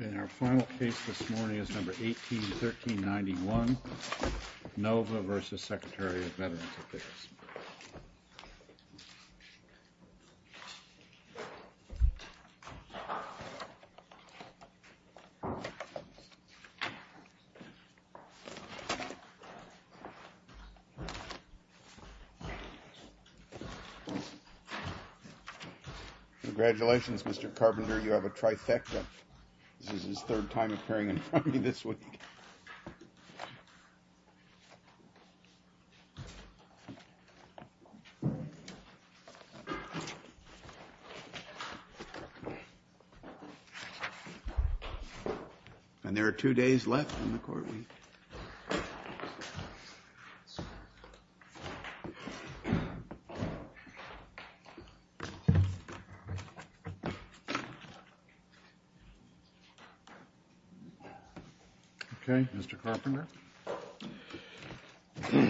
In our final case this morning is number 181391, NOVA v. Secretary of Veterans Affairs. Congratulations, Mr. Carpenter. You have a trifecta. This is his third time appearing in front of me this week. And there are two days left in the court week. Okay. Mr. Carpenter.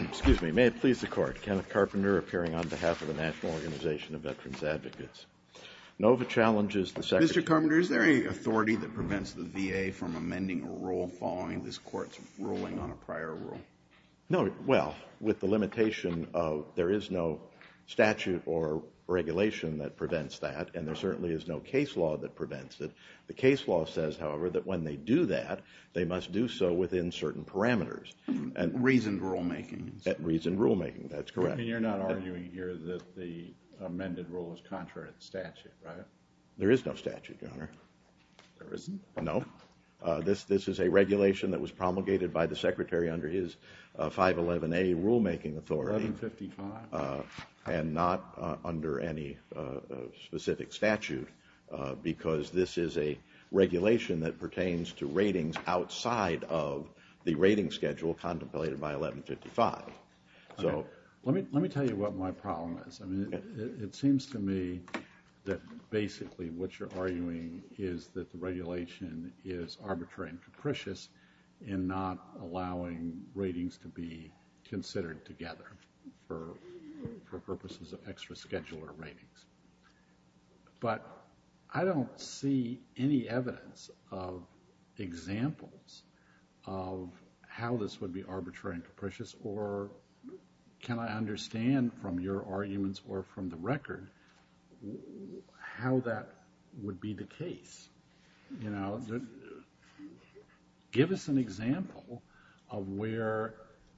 Excuse me. May it please the Court. Kenneth Carpenter appearing on behalf of the National Organization of Veterans Advocates. NOVA challenges the Secretary. Mr. Carpenter, is there any authority that prevents the VA from amending a rule following this Court's ruling on a prior rule? No. Well, with the limitation of there is no statute or regulation that prevents that. And there certainly is no case law that prevents it. The case law says, however, that when they do that, they must do so within certain parameters. Reasoned rulemaking. Reasoned rulemaking. That's correct. You're not arguing here that the amended rule is contrary to the statute, right? There is no statute, Your Honor. There isn't? No. This is a regulation that was promulgated by the Secretary under his 511A rulemaking authority. 1155. And not under any specific statute, because this is a regulation that pertains to ratings outside of the rating schedule contemplated by 1155. Let me tell you what my problem is. I mean, it seems to me that basically what you're arguing is that the regulation is arbitrary and capricious in not allowing ratings to be considered together for purposes of extra scheduler ratings. But I don't see any evidence of examples of how this would be arbitrary and capricious, or can I understand from your arguments or from the record how that would be the case? You know, give us an example of where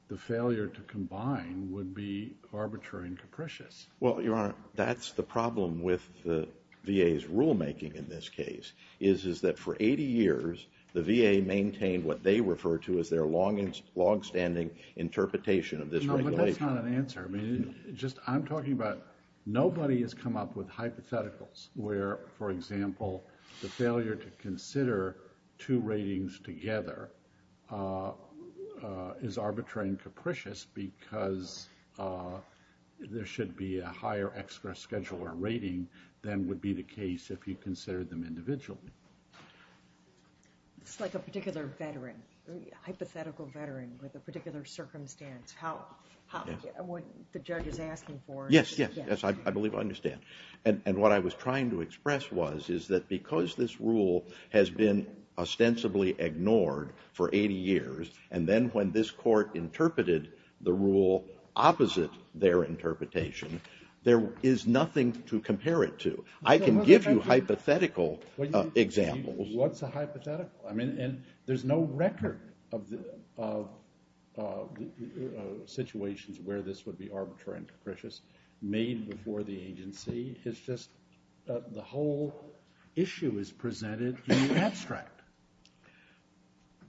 the failure to combine would be arbitrary and capricious. Well, Your Honor, that's the problem with the VA's rulemaking in this case, is that for 80 years, the VA maintained what they refer to as their longstanding interpretation of this regulation. No, but that's not an answer. I'm talking about nobody has come up with hypotheticals where, for example, the failure to consider two ratings together is arbitrary and capricious because there should be a higher extra scheduler rating than would be the case if you considered them individually. It's like a particular veteran, a hypothetical veteran with a particular circumstance. What the judge is asking for. Yes, yes, yes, I believe I understand. And what I was trying to express was that because this rule has been ostensibly ignored for 80 years, and then when this court interpreted the rule opposite their interpretation, there is nothing to compare it to. I can give you hypothetical examples. What's a hypothetical? I mean, there's no record of situations where this would be arbitrary and capricious made before the agency. It's just the whole issue is presented in the abstract.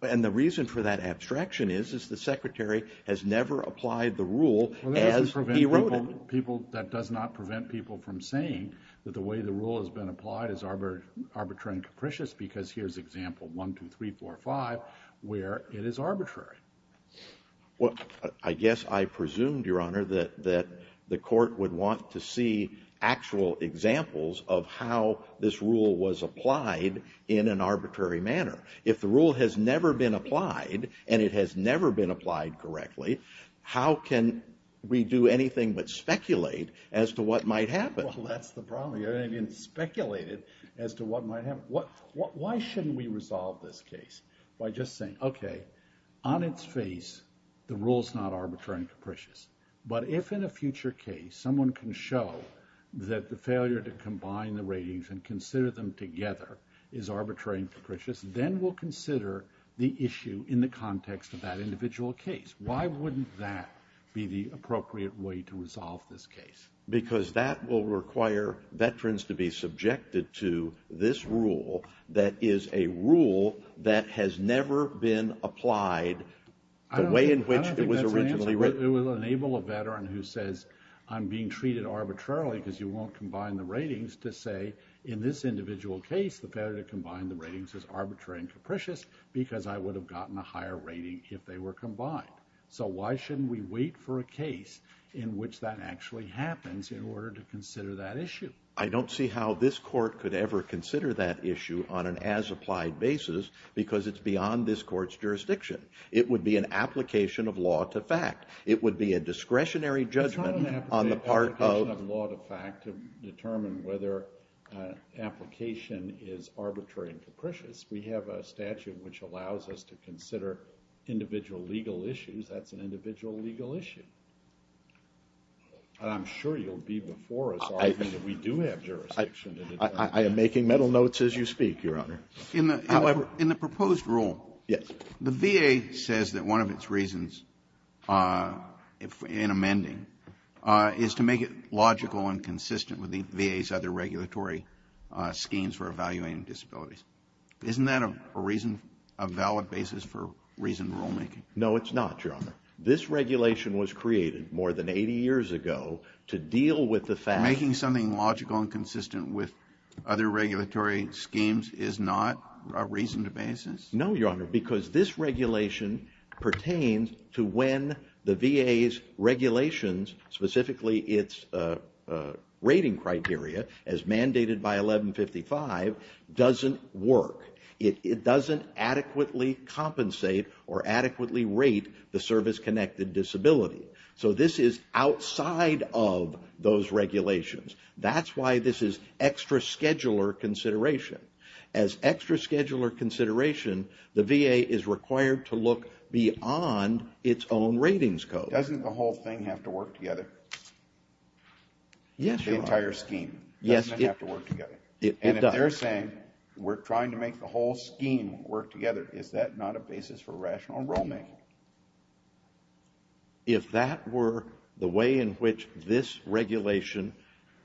And the reason for that abstraction is, is the Secretary has never applied the rule as he wrote it. That does not prevent people from saying that the way the rule has been applied is arbitrary and capricious because here's example 1, 2, 3, 4, 5, where it is arbitrary. Well, I guess I presumed, Your Honor, that the court would want to see actual examples of how this rule was applied in an arbitrary manner. If the rule has never been applied, and it has never been applied correctly, how can we do anything but speculate as to what might happen? Well, that's the problem. You're going to get speculated as to what might happen. Why shouldn't we resolve this case by just saying, okay, on its face, the rule's not arbitrary and capricious. But if in a future case someone can show that the failure to combine the ratings and consider them together is arbitrary and capricious, then we'll consider the issue in the context of that individual case. Why wouldn't that be the appropriate way to resolve this case? Because that will require veterans to be subjected to this rule that is a rule that has never been applied the way in which it was originally written. I don't think that's an answer. It will enable a veteran who says, I'm being treated arbitrarily because you won't combine the ratings to say in this individual case the failure to combine the ratings is arbitrary and capricious because I would have gotten a higher rating if they were combined. So why shouldn't we wait for a case in which that actually happens in order to consider that issue? I don't see how this court could ever consider that issue on an as-applied basis because it's beyond this court's jurisdiction. It would be an application of law to fact. It would be a discretionary judgment on the part of to determine whether an application is arbitrary and capricious. We have a statute which allows us to consider individual legal issues. That's an individual legal issue. I'm sure you'll be before us arguing that we do have jurisdiction. I am making mental notes as you speak, Your Honor. However, in the proposed rule, the VA says that one of its reasons in amending is to make it logical and consistent with the VA's other regulatory schemes for evaluating disabilities. Isn't that a valid basis for reasoned rulemaking? No, it's not, Your Honor. This regulation was created more than 80 years ago to deal with the fact Making something logical and consistent with other regulatory schemes is not a reasoned basis? No, Your Honor, because this regulation pertains to when the VA's regulations, specifically its rating criteria as mandated by 1155, doesn't work. It doesn't adequately compensate or adequately rate the service-connected disability. So this is outside of those regulations. That's why this is extra scheduler consideration. As extra scheduler consideration, the VA is required to look beyond its own ratings code. Doesn't the whole thing have to work together? Yes, Your Honor. The entire scheme doesn't have to work together. And if they're saying we're trying to make the whole scheme work together, is that not a basis for rational rulemaking? If that were the way in which this regulation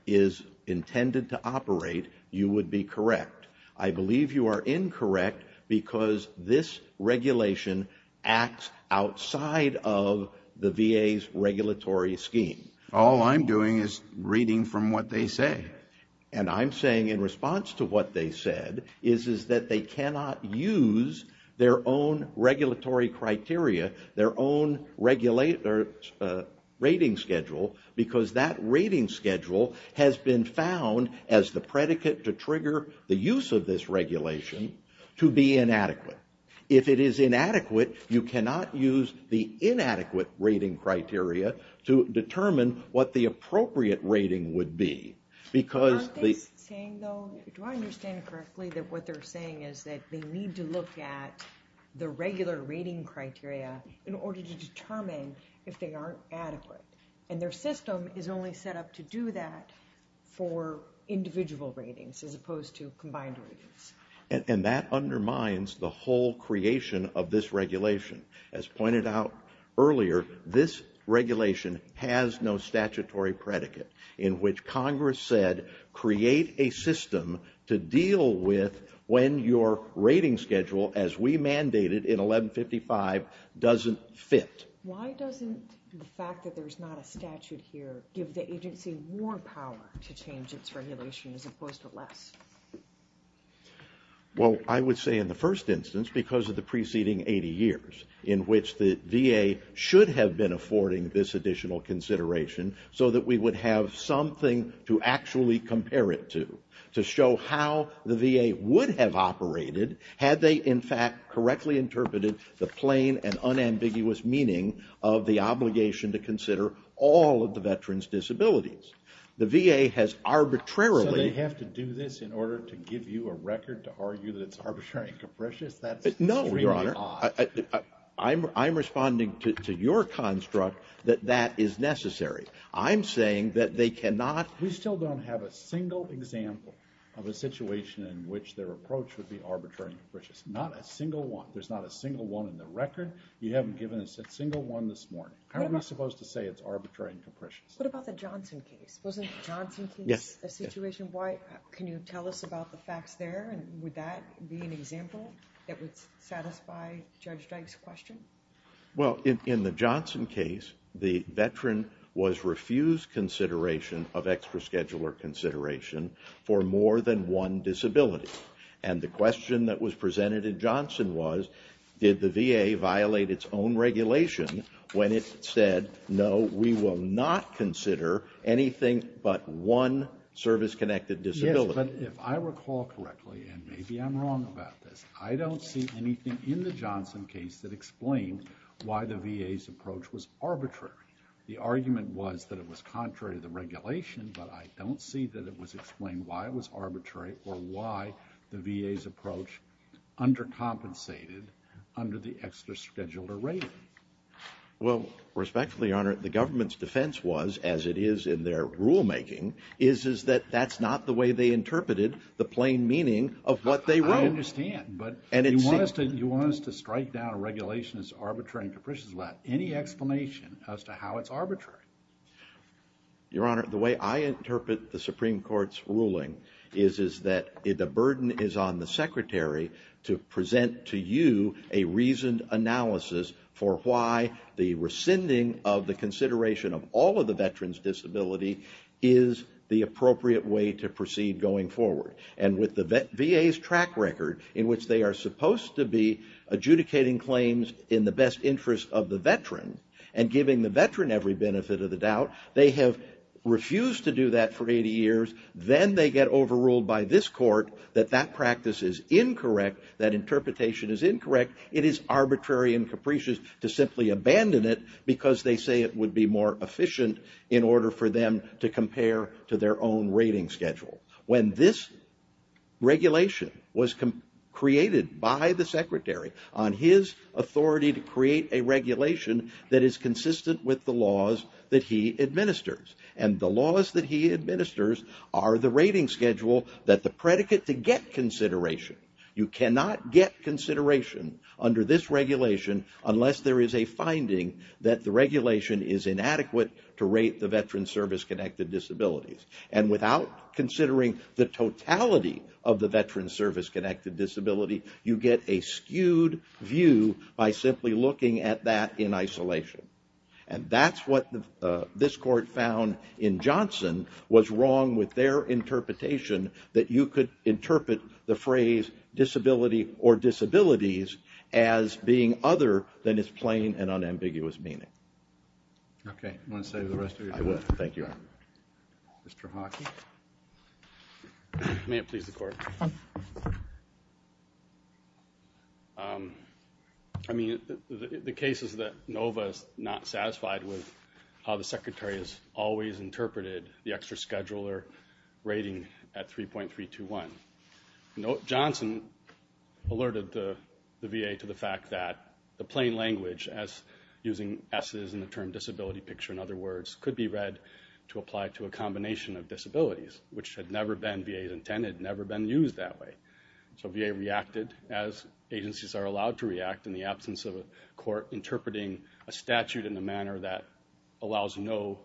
is intended to operate, you would be correct. I believe you are incorrect because this regulation acts outside of the VA's regulatory scheme. All I'm doing is reading from what they say. And I'm saying in response to what they said is that they cannot use their own regulatory criteria, their own rating schedule, because that rating schedule has been found as the predicate to trigger the use of this regulation to be inadequate. If it is inadequate, you cannot use the inadequate rating criteria to determine what the appropriate rating would be. Do I understand correctly that what they're saying is that they need to look at the regular rating criteria in order to determine if they are adequate? And their system is only set up to do that for individual ratings as opposed to combined ratings. And that undermines the whole creation of this regulation. As pointed out earlier, this regulation has no statutory predicate in which Congress said create a system to deal with when your rating schedule, as we mandated in 1155, doesn't fit. Why doesn't the fact that there's not a statute here give the agency more power to change its regulation as opposed to less? Well, I would say in the first instance because of the preceding 80 years in which the VA should have been affording this additional consideration so that we would have something to actually compare it to, to show how the VA would have operated had they in fact correctly interpreted the plain and unambiguous meaning of the obligation to consider all of the veterans' disabilities. The VA has arbitrarily... So they have to do this in order to give you a record to argue that it's arbitrary and capricious? No, Your Honor. I'm responding to your construct that that is necessary. I'm saying that they cannot... We still don't have a single example of a situation in which their approach would be arbitrary and capricious. Not a single one. There's not a single one in the record. You haven't given us a single one this morning. How are we supposed to say it's arbitrary and capricious? What about the Johnson case? Wasn't the Johnson case a situation? Can you tell us about the facts there? Would that be an example? It would satisfy Judge Drake's question? Well, in the Johnson case, the veteran was refused consideration of extra scheduler consideration for more than one disability. And the question that was presented in Johnson was, did the VA violate its own regulation when it said, no, we will not consider anything but one service-connected disability? Yes, but if I recall correctly, and maybe I'm wrong about this, I don't see anything in the Johnson case that explains why the VA's approach was arbitrary. The argument was that it was contrary to the regulation, but I don't see that it was explained why it was arbitrary or why the VA's approach undercompensated under the extra scheduler rating. Well, respectfully, Your Honor, the government's defense was, as it is in their rulemaking, is that that's not the way they interpreted the plain meaning of what they wrote. I understand, but you want us to strike down a regulation that's arbitrary and capricious without any explanation as to how it's arbitrary. Your Honor, the way I interpret the Supreme Court's ruling is that the burden is on the Secretary to present to you a reasoned analysis for why the rescinding of the consideration of all of the veterans' disability is the appropriate way to proceed going forward. And with the VA's track record, in which they are supposed to be adjudicating claims in the best interest of the veteran and giving the veteran every benefit of the doubt, they have refused to do that for 80 years. Then they get overruled by this court that that practice is incorrect, that interpretation is incorrect. It is arbitrary and capricious to simply abandon it because they say it would be more efficient in order for them to compare to their own rating schedule. When this regulation was created by the Secretary on his authority to create a regulation that is consistent with the laws that he administers, and the laws that he administers are the rating schedule that the predicate to get consideration. You cannot get consideration under this regulation unless there is a finding that the regulation is inadequate to rate the veterans' service-connected disabilities. And without considering the totality of the veterans' service-connected disability, you get a skewed view by simply looking at that in isolation. And that's what this court found in Johnson was wrong with their interpretation that you could interpret the phrase disability or disabilities as being other than its plain and unambiguous meaning. Okay. Do you want to save the rest of your time? I would. Thank you, Your Honor. Mr. Hockey? May it please the Court. I mean, the case is that NOVA is not satisfied with how the Secretary has always interpreted the extra scheduler rating at 3.321. Johnson alerted the VA to the fact that the plain language as using S's in the term disability picture, in other words, could be read to apply to a combination of disabilities, which had never been VA's intended, never been used that way. So VA reacted as agencies are allowed to react in the absence of a court interpreting a statute in a manner that allows no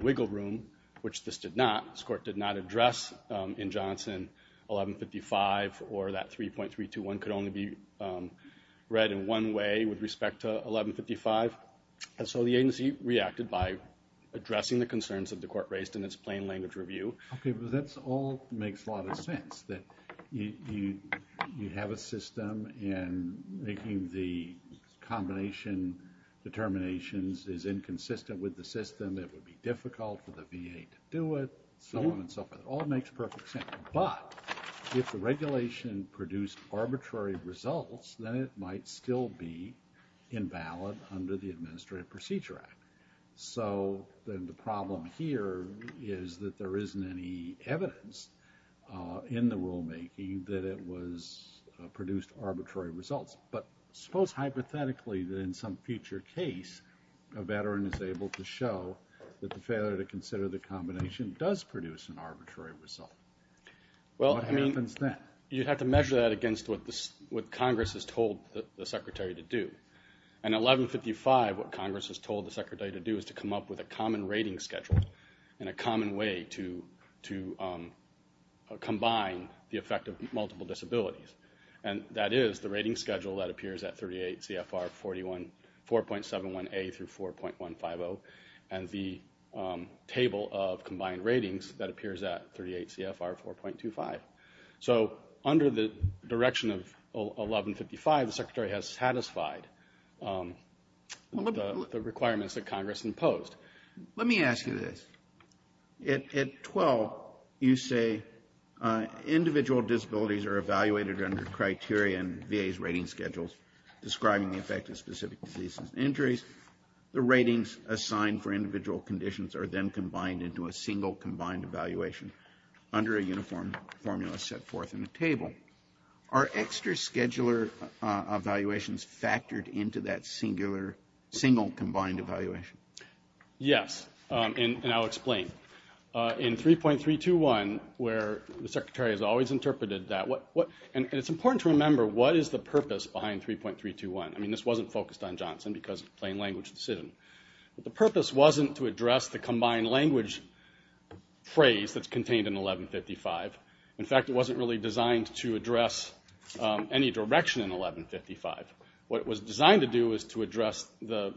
wiggle room, which this did not. This court did not address in Johnson 1155 or that 3.321 could only be read in one way with respect to 1155. And so the agency reacted by addressing the concerns that the court raised in its plain language review. Okay, but that all makes a lot of sense, that you have a system, and making the combination determinations is inconsistent with the system. It would be difficult for the VA to do it, so on and so forth. It all makes perfect sense. But if the regulation produced arbitrary results, then it might still be invalid under the Administrative Procedure Act. So then the problem here is that there isn't any evidence in the rulemaking that it produced arbitrary results. But suppose hypothetically that in some future case, a veteran is able to show that the failure to consider the combination does produce an arbitrary result. What happens then? You'd have to measure that against what Congress has told the Secretary to do. In 1155, what Congress has told the Secretary to do is to come up with a common rating schedule and a common way to combine the effect of multiple disabilities. And that is the rating schedule that appears at 38 CFR 4.71A through 4.150, and the table of combined ratings that appears at 38 CFR 4.25. So under the direction of 1155, the Secretary has satisfied the requirements that Congress imposed. Let me ask you this. At 12, you say, individual disabilities are evaluated under criteria in VA's rating schedules describing the effect of specific diseases and injuries. The ratings assigned for individual conditions are then combined into a single combined evaluation under a uniform formula set forth in the table. Are extra scheduler evaluations factored into that single combined evaluation? Yes, and I'll explain. In 3.321, where the Secretary has always interpreted that... And it's important to remember, what is the purpose behind 3.321? I mean, this wasn't focused on Johnson because it's a plain language decision. But the purpose wasn't to address the combined language phrase that's contained in 1155. In fact, it wasn't really designed to address any direction in 1155. What it was designed to do was to address the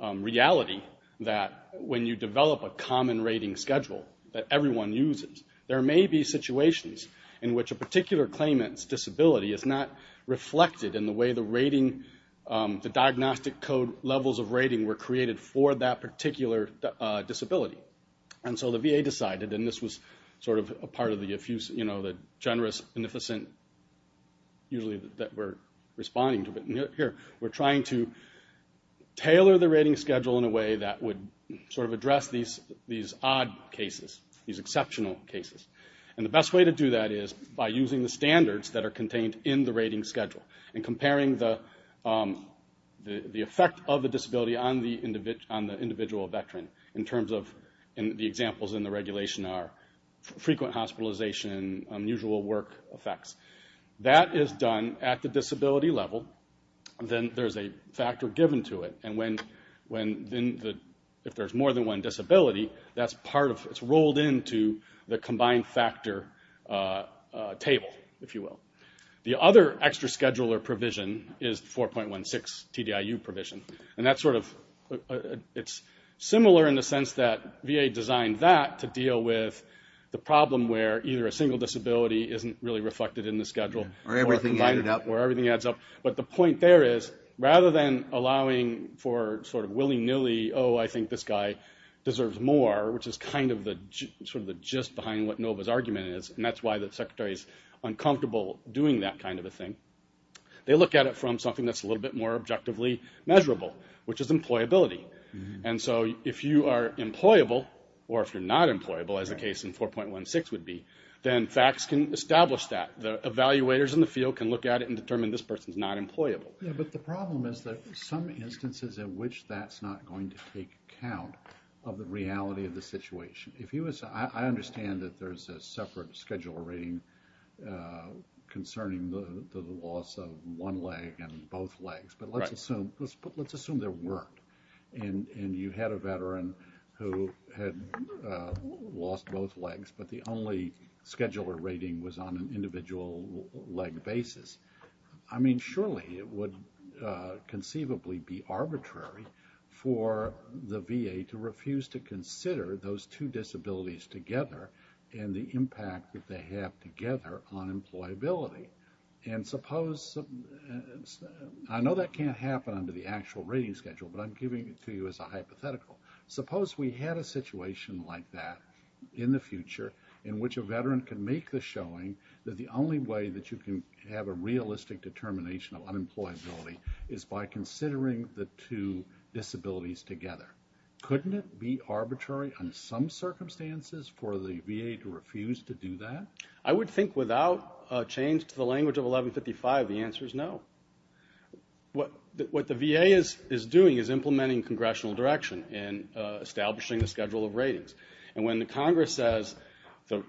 reality that when you develop a common rating schedule that everyone uses, there may be situations in which a particular claimant's disability is not reflected in the way the rating... the diagnostic code levels of rating were created for that particular disability. And so the VA decided, and this was sort of a part of the generous, beneficent... usually that we're responding to. Here, we're trying to tailor the rating schedule in a way that would sort of address these odd cases, these exceptional cases. And the best way to do that is by using the standards that are contained in the rating schedule and comparing the effect of the disability on the individual veteran. In terms of the examples in the regulation are frequent hospitalization, unusual work effects. That is done at the disability level. Then there's a factor given to it. And if there's more than one disability, that's rolled into the combined factor table, if you will. The other extra scheduler provision is the 4.16 TDIU provision. And that's sort of... it's similar in the sense that VA designed that to deal with the problem where either a single disability isn't really reflected in the schedule... where everything adds up. But the point there is, rather than allowing for sort of willy-nilly, oh, I think this guy deserves more, which is kind of the... sort of the gist behind what NOVA's argument is, and that's why the secretary's uncomfortable doing that kind of a thing. They look at it from something that's a little bit more objectively measurable, which is employability. And so if you are employable, or if you're not employable, as the case in 4.16 would be, then facts can establish that. The evaluators in the field can look at it and determine this person's not employable. Yeah, but the problem is that some instances in which that's not going to take account of the reality of the situation. If he was... I understand that there's a separate scheduler rating concerning the loss of one leg and both legs, but let's assume there weren't. And you had a veteran who had lost both legs, but the only scheduler rating was on an individual leg basis. I mean, surely, it would conceivably be arbitrary for the VA to refuse to consider those two disabilities together and the impact that they have together on employability. And suppose... I know that can't happen under the actual rating schedule, but I'm giving it to you as a hypothetical. Suppose we had a situation like that in the future in which a veteran could make the showing that the only way that you can have a realistic determination of unemployability is by considering the two disabilities together. Couldn't it be arbitrary under some circumstances for the VA to refuse to do that? I would think without a change to the language of 1155, the answer is no. What the VA is doing is implementing congressional direction in establishing the schedule of ratings. And when the Congress says... The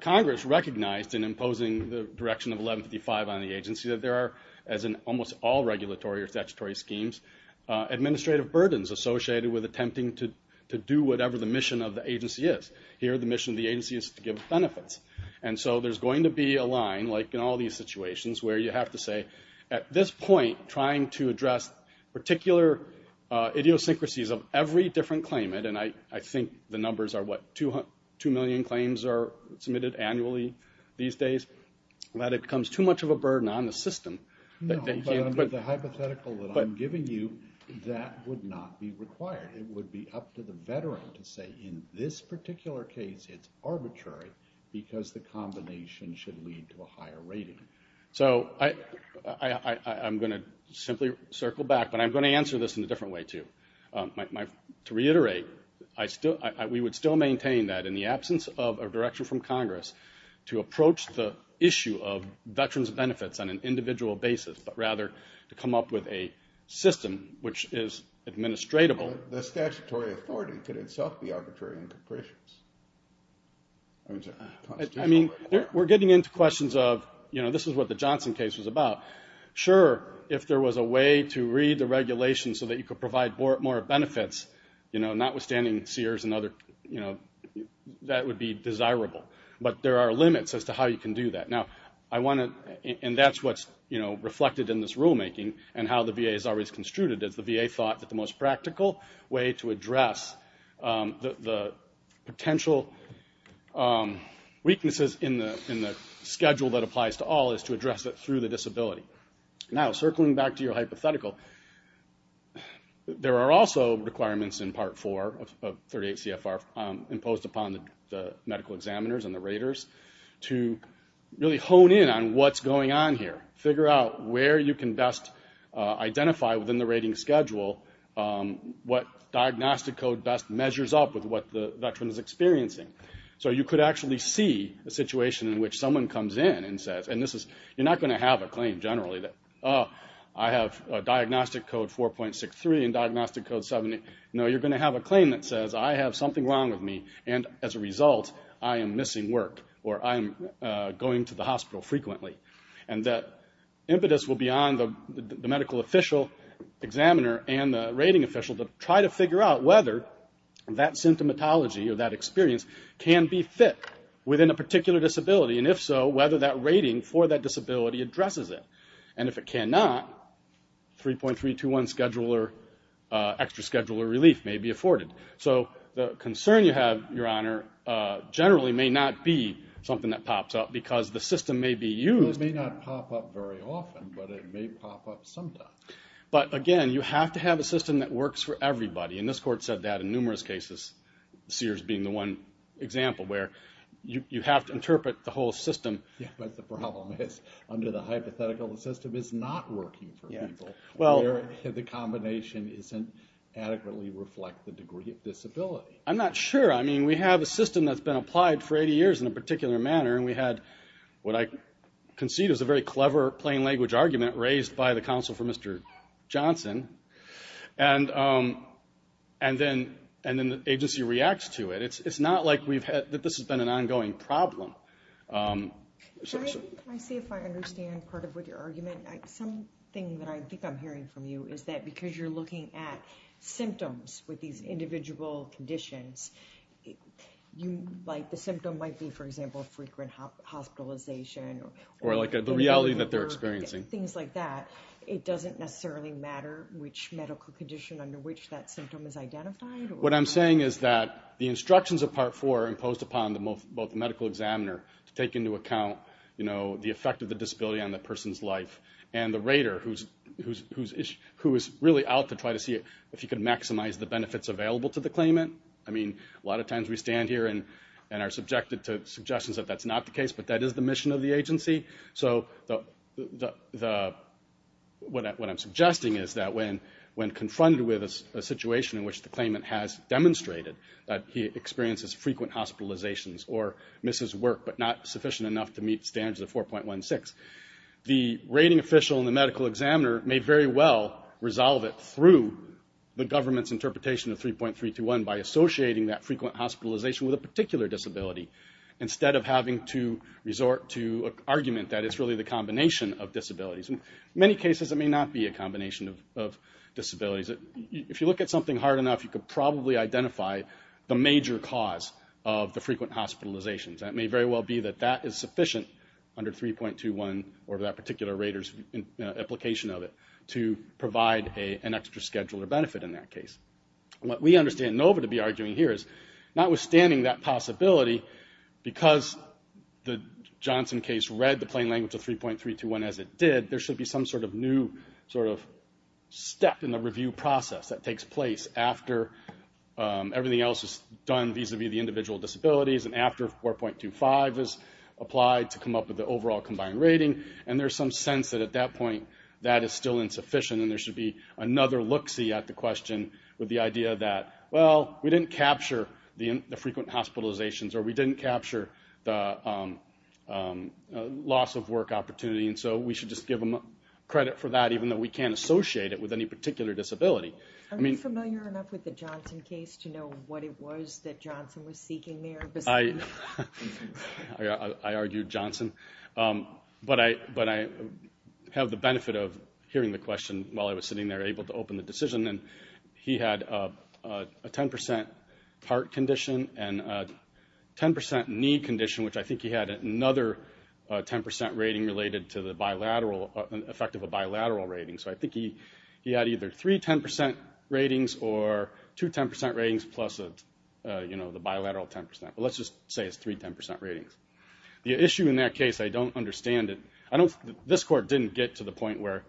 Congress recognized in imposing the direction of 1155 on the agency that there are, as in almost all regulatory or statutory schemes, administrative burdens associated with attempting to do whatever the mission of the agency is. Here the mission of the agency is to give benefits. And so there's going to be a line like in all these situations where you have to say at this point trying to address particular idiosyncrasies of every different claimant and I think the numbers are 2 million claims are submitted annually these days, that it becomes too much of a burden on the system. The hypothetical that I'm giving you that would not be required. It would be up to the veteran to say in this particular case it's arbitrary because the combination should lead to a higher rating. So I'm going to simply circle back but I'm going to answer this in a different way too. To reiterate, we would still maintain that in the absence of a direction from Congress to approach the issue of veterans benefits on an individual basis but rather to come up with a system which is administratable. The statutory authority could itself be arbitrary and capricious. We're getting into questions of this is what the Johnson case was about. Sure, if there was a way to read the regulations so that you could provide more benefits, notwithstanding Sears and other that would be desirable. But there are limits as to how you can do that. That's what's reflected in this rulemaking and how the VA has always construed it. The VA thought that the most practical way to address the potential weaknesses in the schedule that applies to all is to address it through the disability. Circling back to your hypothetical, there are also requirements in Part 4 of 38 CFR imposed upon the medical examiners and the raters to really hone in on what's going on here. Figure out where you can best identify within the rating schedule what diagnostic code best measures up with what the veteran is experiencing. You could actually see a situation in which someone comes in and says you're not going to have a claim generally that I have diagnostic code 4.63 and diagnostic code 70. No, you're going to have a claim that says I have something wrong with me and as a result I'm going to the hospital frequently. Impetus will be on the medical official examiner and the rating official to try to figure out whether that symptomatology or that experience can be fit within a particular disability. If so, whether that rating for that disability addresses it. If it cannot, 3.321 extra scheduler relief may be afforded. The concern you have, Your Honor, generally may not be something that pops up because the system may be used. It may not pop up very often but it may pop up sometimes. But again, you have to have a system that works for everybody and this court said that in numerous cases, Sears being the one example where you have to interpret the whole system but the problem is working for people. The combination doesn't adequately reflect the degree of disability. I'm not sure. I mean, we have a system that's been applied for 80 years in a particular manner and we had what I concede is a very clever plain language argument raised by the counsel for Mr. Johnson. And then the agency reacts to it. It's not like this has been an ongoing problem. Can I see if I understand Something that I think I'm hearing from you is that because you're looking at symptoms with these individual conditions the symptom might be, for example, frequent hospitalization Or the reality that they're experiencing. Things like that. It doesn't necessarily matter which medical condition under which that symptom is identified. What I'm saying is that the instructions of Part IV are imposed upon both the medical examiner to take into account the effect of the disability on the person's life and the rater who is really out to try to see if he can maximize the benefits available to the claimant. A lot of times we stand here and are subjected to suggestions that that's not the case, but that is the mission of the agency. So what I'm suggesting is that when confronted with a situation in which the claimant has demonstrated that he experiences frequent hospitalizations or misses work but not sufficient enough to meet standards of 4.16, the rating official and the medical examiner may very well resolve it through the government's interpretation of 3.321 by associating that frequent hospitalization with a particular disability. Instead of having to resort to an argument that it's really the combination of disabilities. In many cases it may not be a combination of disabilities. If you look at something hard enough, you could probably identify the major cause of the frequent hospitalizations. It may very well be that that is sufficient under 3.21 or that particular rater's application of it to provide an extra schedule or benefit in that case. What we understand NOVA to be arguing here is notwithstanding that possibility, because the Johnson case read the plain language of 3.321 as it did, there should be some sort of new step in the review process that takes place after everything else is done vis-a-vis the individual disabilities and after 4.25 is applied to come up with the overall combined rating and there's some sense that at that point that is still insufficient and there should be another look-see at the question with the idea that well, we didn't capture the frequent hospitalizations or we didn't capture the loss of work opportunity and so we should just give them credit for that even though we can't associate it with any particular disability. Are you familiar enough with the Johnson case to know what it was that Johnson was seeking there? I argued Johnson but I have the benefit of hearing the question while I was sitting there able to open the decision and he had a 10% heart condition and a 10% knee condition, which I think he had another 10% rating related to the effect of a bilateral rating, so I think he had either three 10% ratings or two 10% ratings plus the bilateral 10%. Let's just say it's three 10% ratings. The issue in that case, I don't understand it. This court didn't get to the point where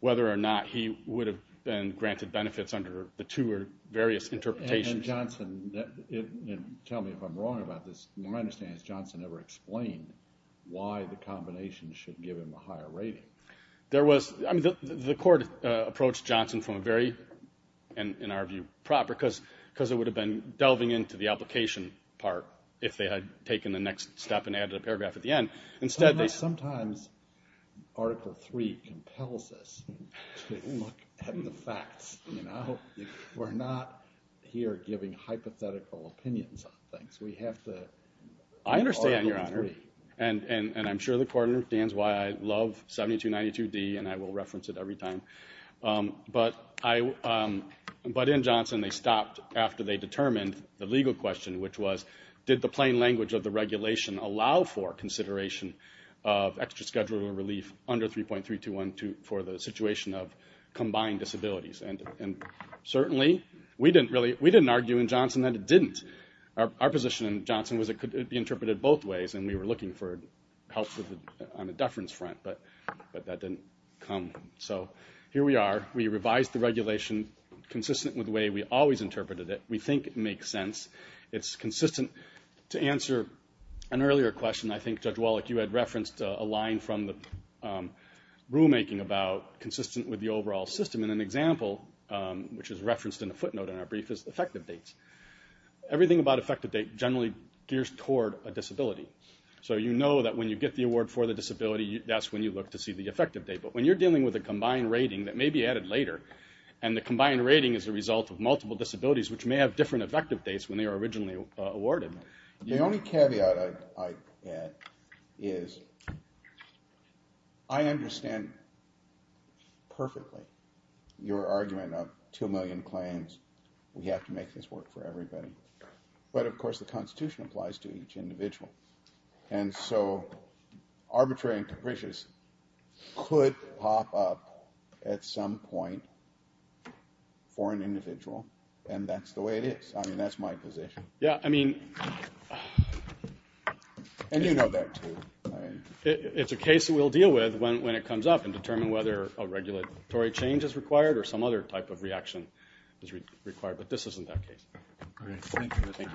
whether or not he would have been granted benefits under the two or various interpretations. And Johnson, tell me if I'm wrong about this, my understanding is Johnson never explained why the combination should give him a higher rating. The court approached Johnson from a very, in fact, it would have been delving into the application part if they had taken the next step and added a paragraph at the end. Sometimes Article III compels us to look at the facts. We're not here giving hypothetical opinions on things. I understand, Your Honor. And I'm sure the court understands why I love 7292D and I will reference it every time. But within Johnson, they stopped after they determined the legal question, which was did the plain language of the regulation allow for consideration of extra scheduler relief under 3.321 for the situation of combined disabilities. And certainly, we didn't argue in Johnson that it didn't. Our position in Johnson was it could be interpreted both ways and we were looking for help on the deference front, but that didn't come. So here we are. We asked the regulation consistent with the way we always interpreted it. We think it makes sense. It's consistent. To answer an earlier question, I think Judge Wallach, you had referenced a line from the rulemaking about consistent with the overall system. And an example, which is referenced in a footnote in our brief, is effective dates. Everything about effective date generally gears toward a disability. So you know that when you look to see the effective date. But when you're dealing with a combined rating that may be added later and the combined rating is a result of multiple disabilities, which may have different effective dates when they were originally awarded. The only caveat I add is I understand perfectly your argument of two million claims. We have to make this work for everybody. But of course, the Constitution applies to each individual. And so arbitrary and capricious could pop up at some point for an individual. And that's the way it is. That's my position. And you know that too. It's a case we'll deal with when it comes up and determine whether a regulatory change is required or some other type of reaction is required. But this isn't that case. Thank you.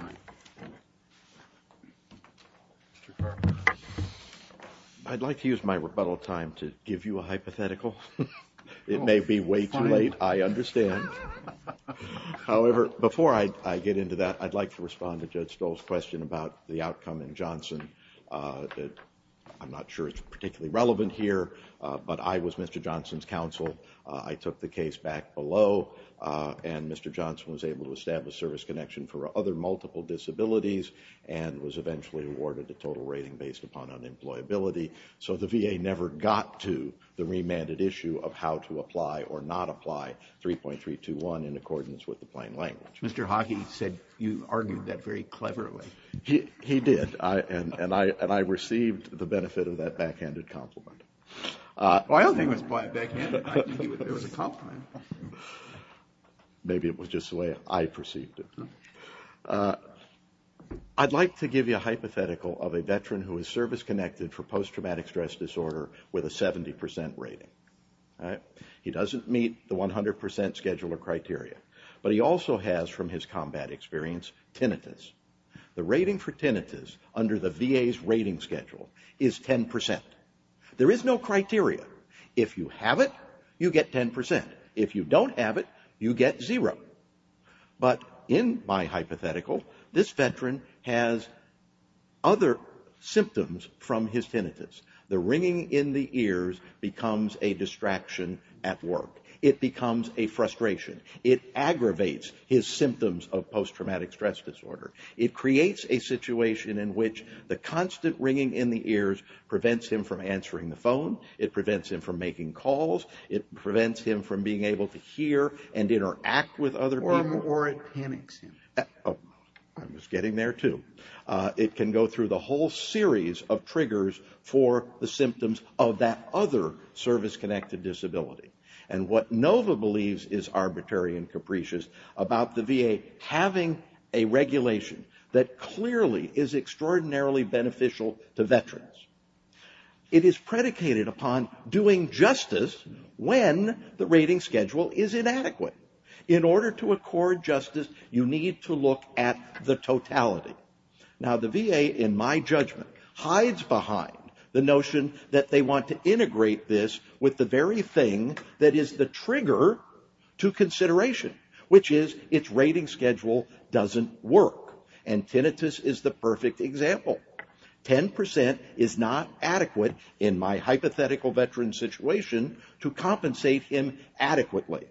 I'd like to use my rebuttal time to give you a hypothetical. It may be way too late. I understand. However, before I get into that, I'd like to respond to Judge Stoll's question about the outcome in Johnson. I'm not sure it's particularly relevant here, but I was Mr. Johnson's counsel. I took the case back below and Mr. Johnson was able to establish service connection for other multiple disabilities and was eventually awarded the total rating based upon unemployability. So the VA never got to the remanded issue of how to apply or not apply 3.321 in accordance with the plain language. Mr. Hage said you argued that very cleverly. He did. And I received the benefit of that backhanded compliment. Well, I don't think it was backhanded. It was a compliment. Maybe it was just the way I perceived it. I'd like to give you a hypothetical of a veteran who is service connected for post-traumatic stress disorder with a 70% rating. He doesn't meet the 100% scheduler criteria, but he also has, from his combat experience, tinnitus. The rating for tinnitus under the VA's rating schedule is 10%. There is no need to worry. You get 10%. If you don't have it, you get zero. But in my hypothetical, this veteran has other symptoms from his tinnitus. The ringing in the ears becomes a distraction at work. It becomes a frustration. It aggravates his symptoms of post-traumatic stress disorder. It creates a situation in which the constant ringing in the ears prevents him from answering the phone, it prevents him from making calls, it prevents him from being able to hear and interact with other people. Or it panics him. I was getting there, too. It can go through the whole series of triggers for the symptoms of that other service-connected disability. What NOVA believes is arbitrary and capricious about the VA having a regulation that clearly is extraordinarily beneficial to veterans. It is predicated upon doing justice when the rating schedule is inadequate. In order to accord justice, you need to look at the totality. Now, the VA, in my judgment, hides behind the notion that they want to integrate this with the very thing that is the trigger to consideration, which is its rating schedule doesn't work. And tinnitus is the perfect example. 10% is not adequate in my hypothetical veteran situation to compensate him adequately.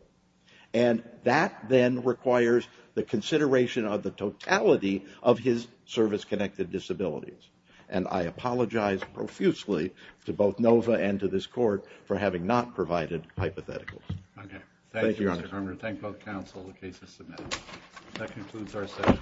And that then requires the consideration of the totality of his service-connected disabilities. And I apologize profusely to both NOVA and to this Court for having not provided hypotheticals. Thank you, Mr. Kramer. Thank both counsel. The case is submitted. That concludes our session.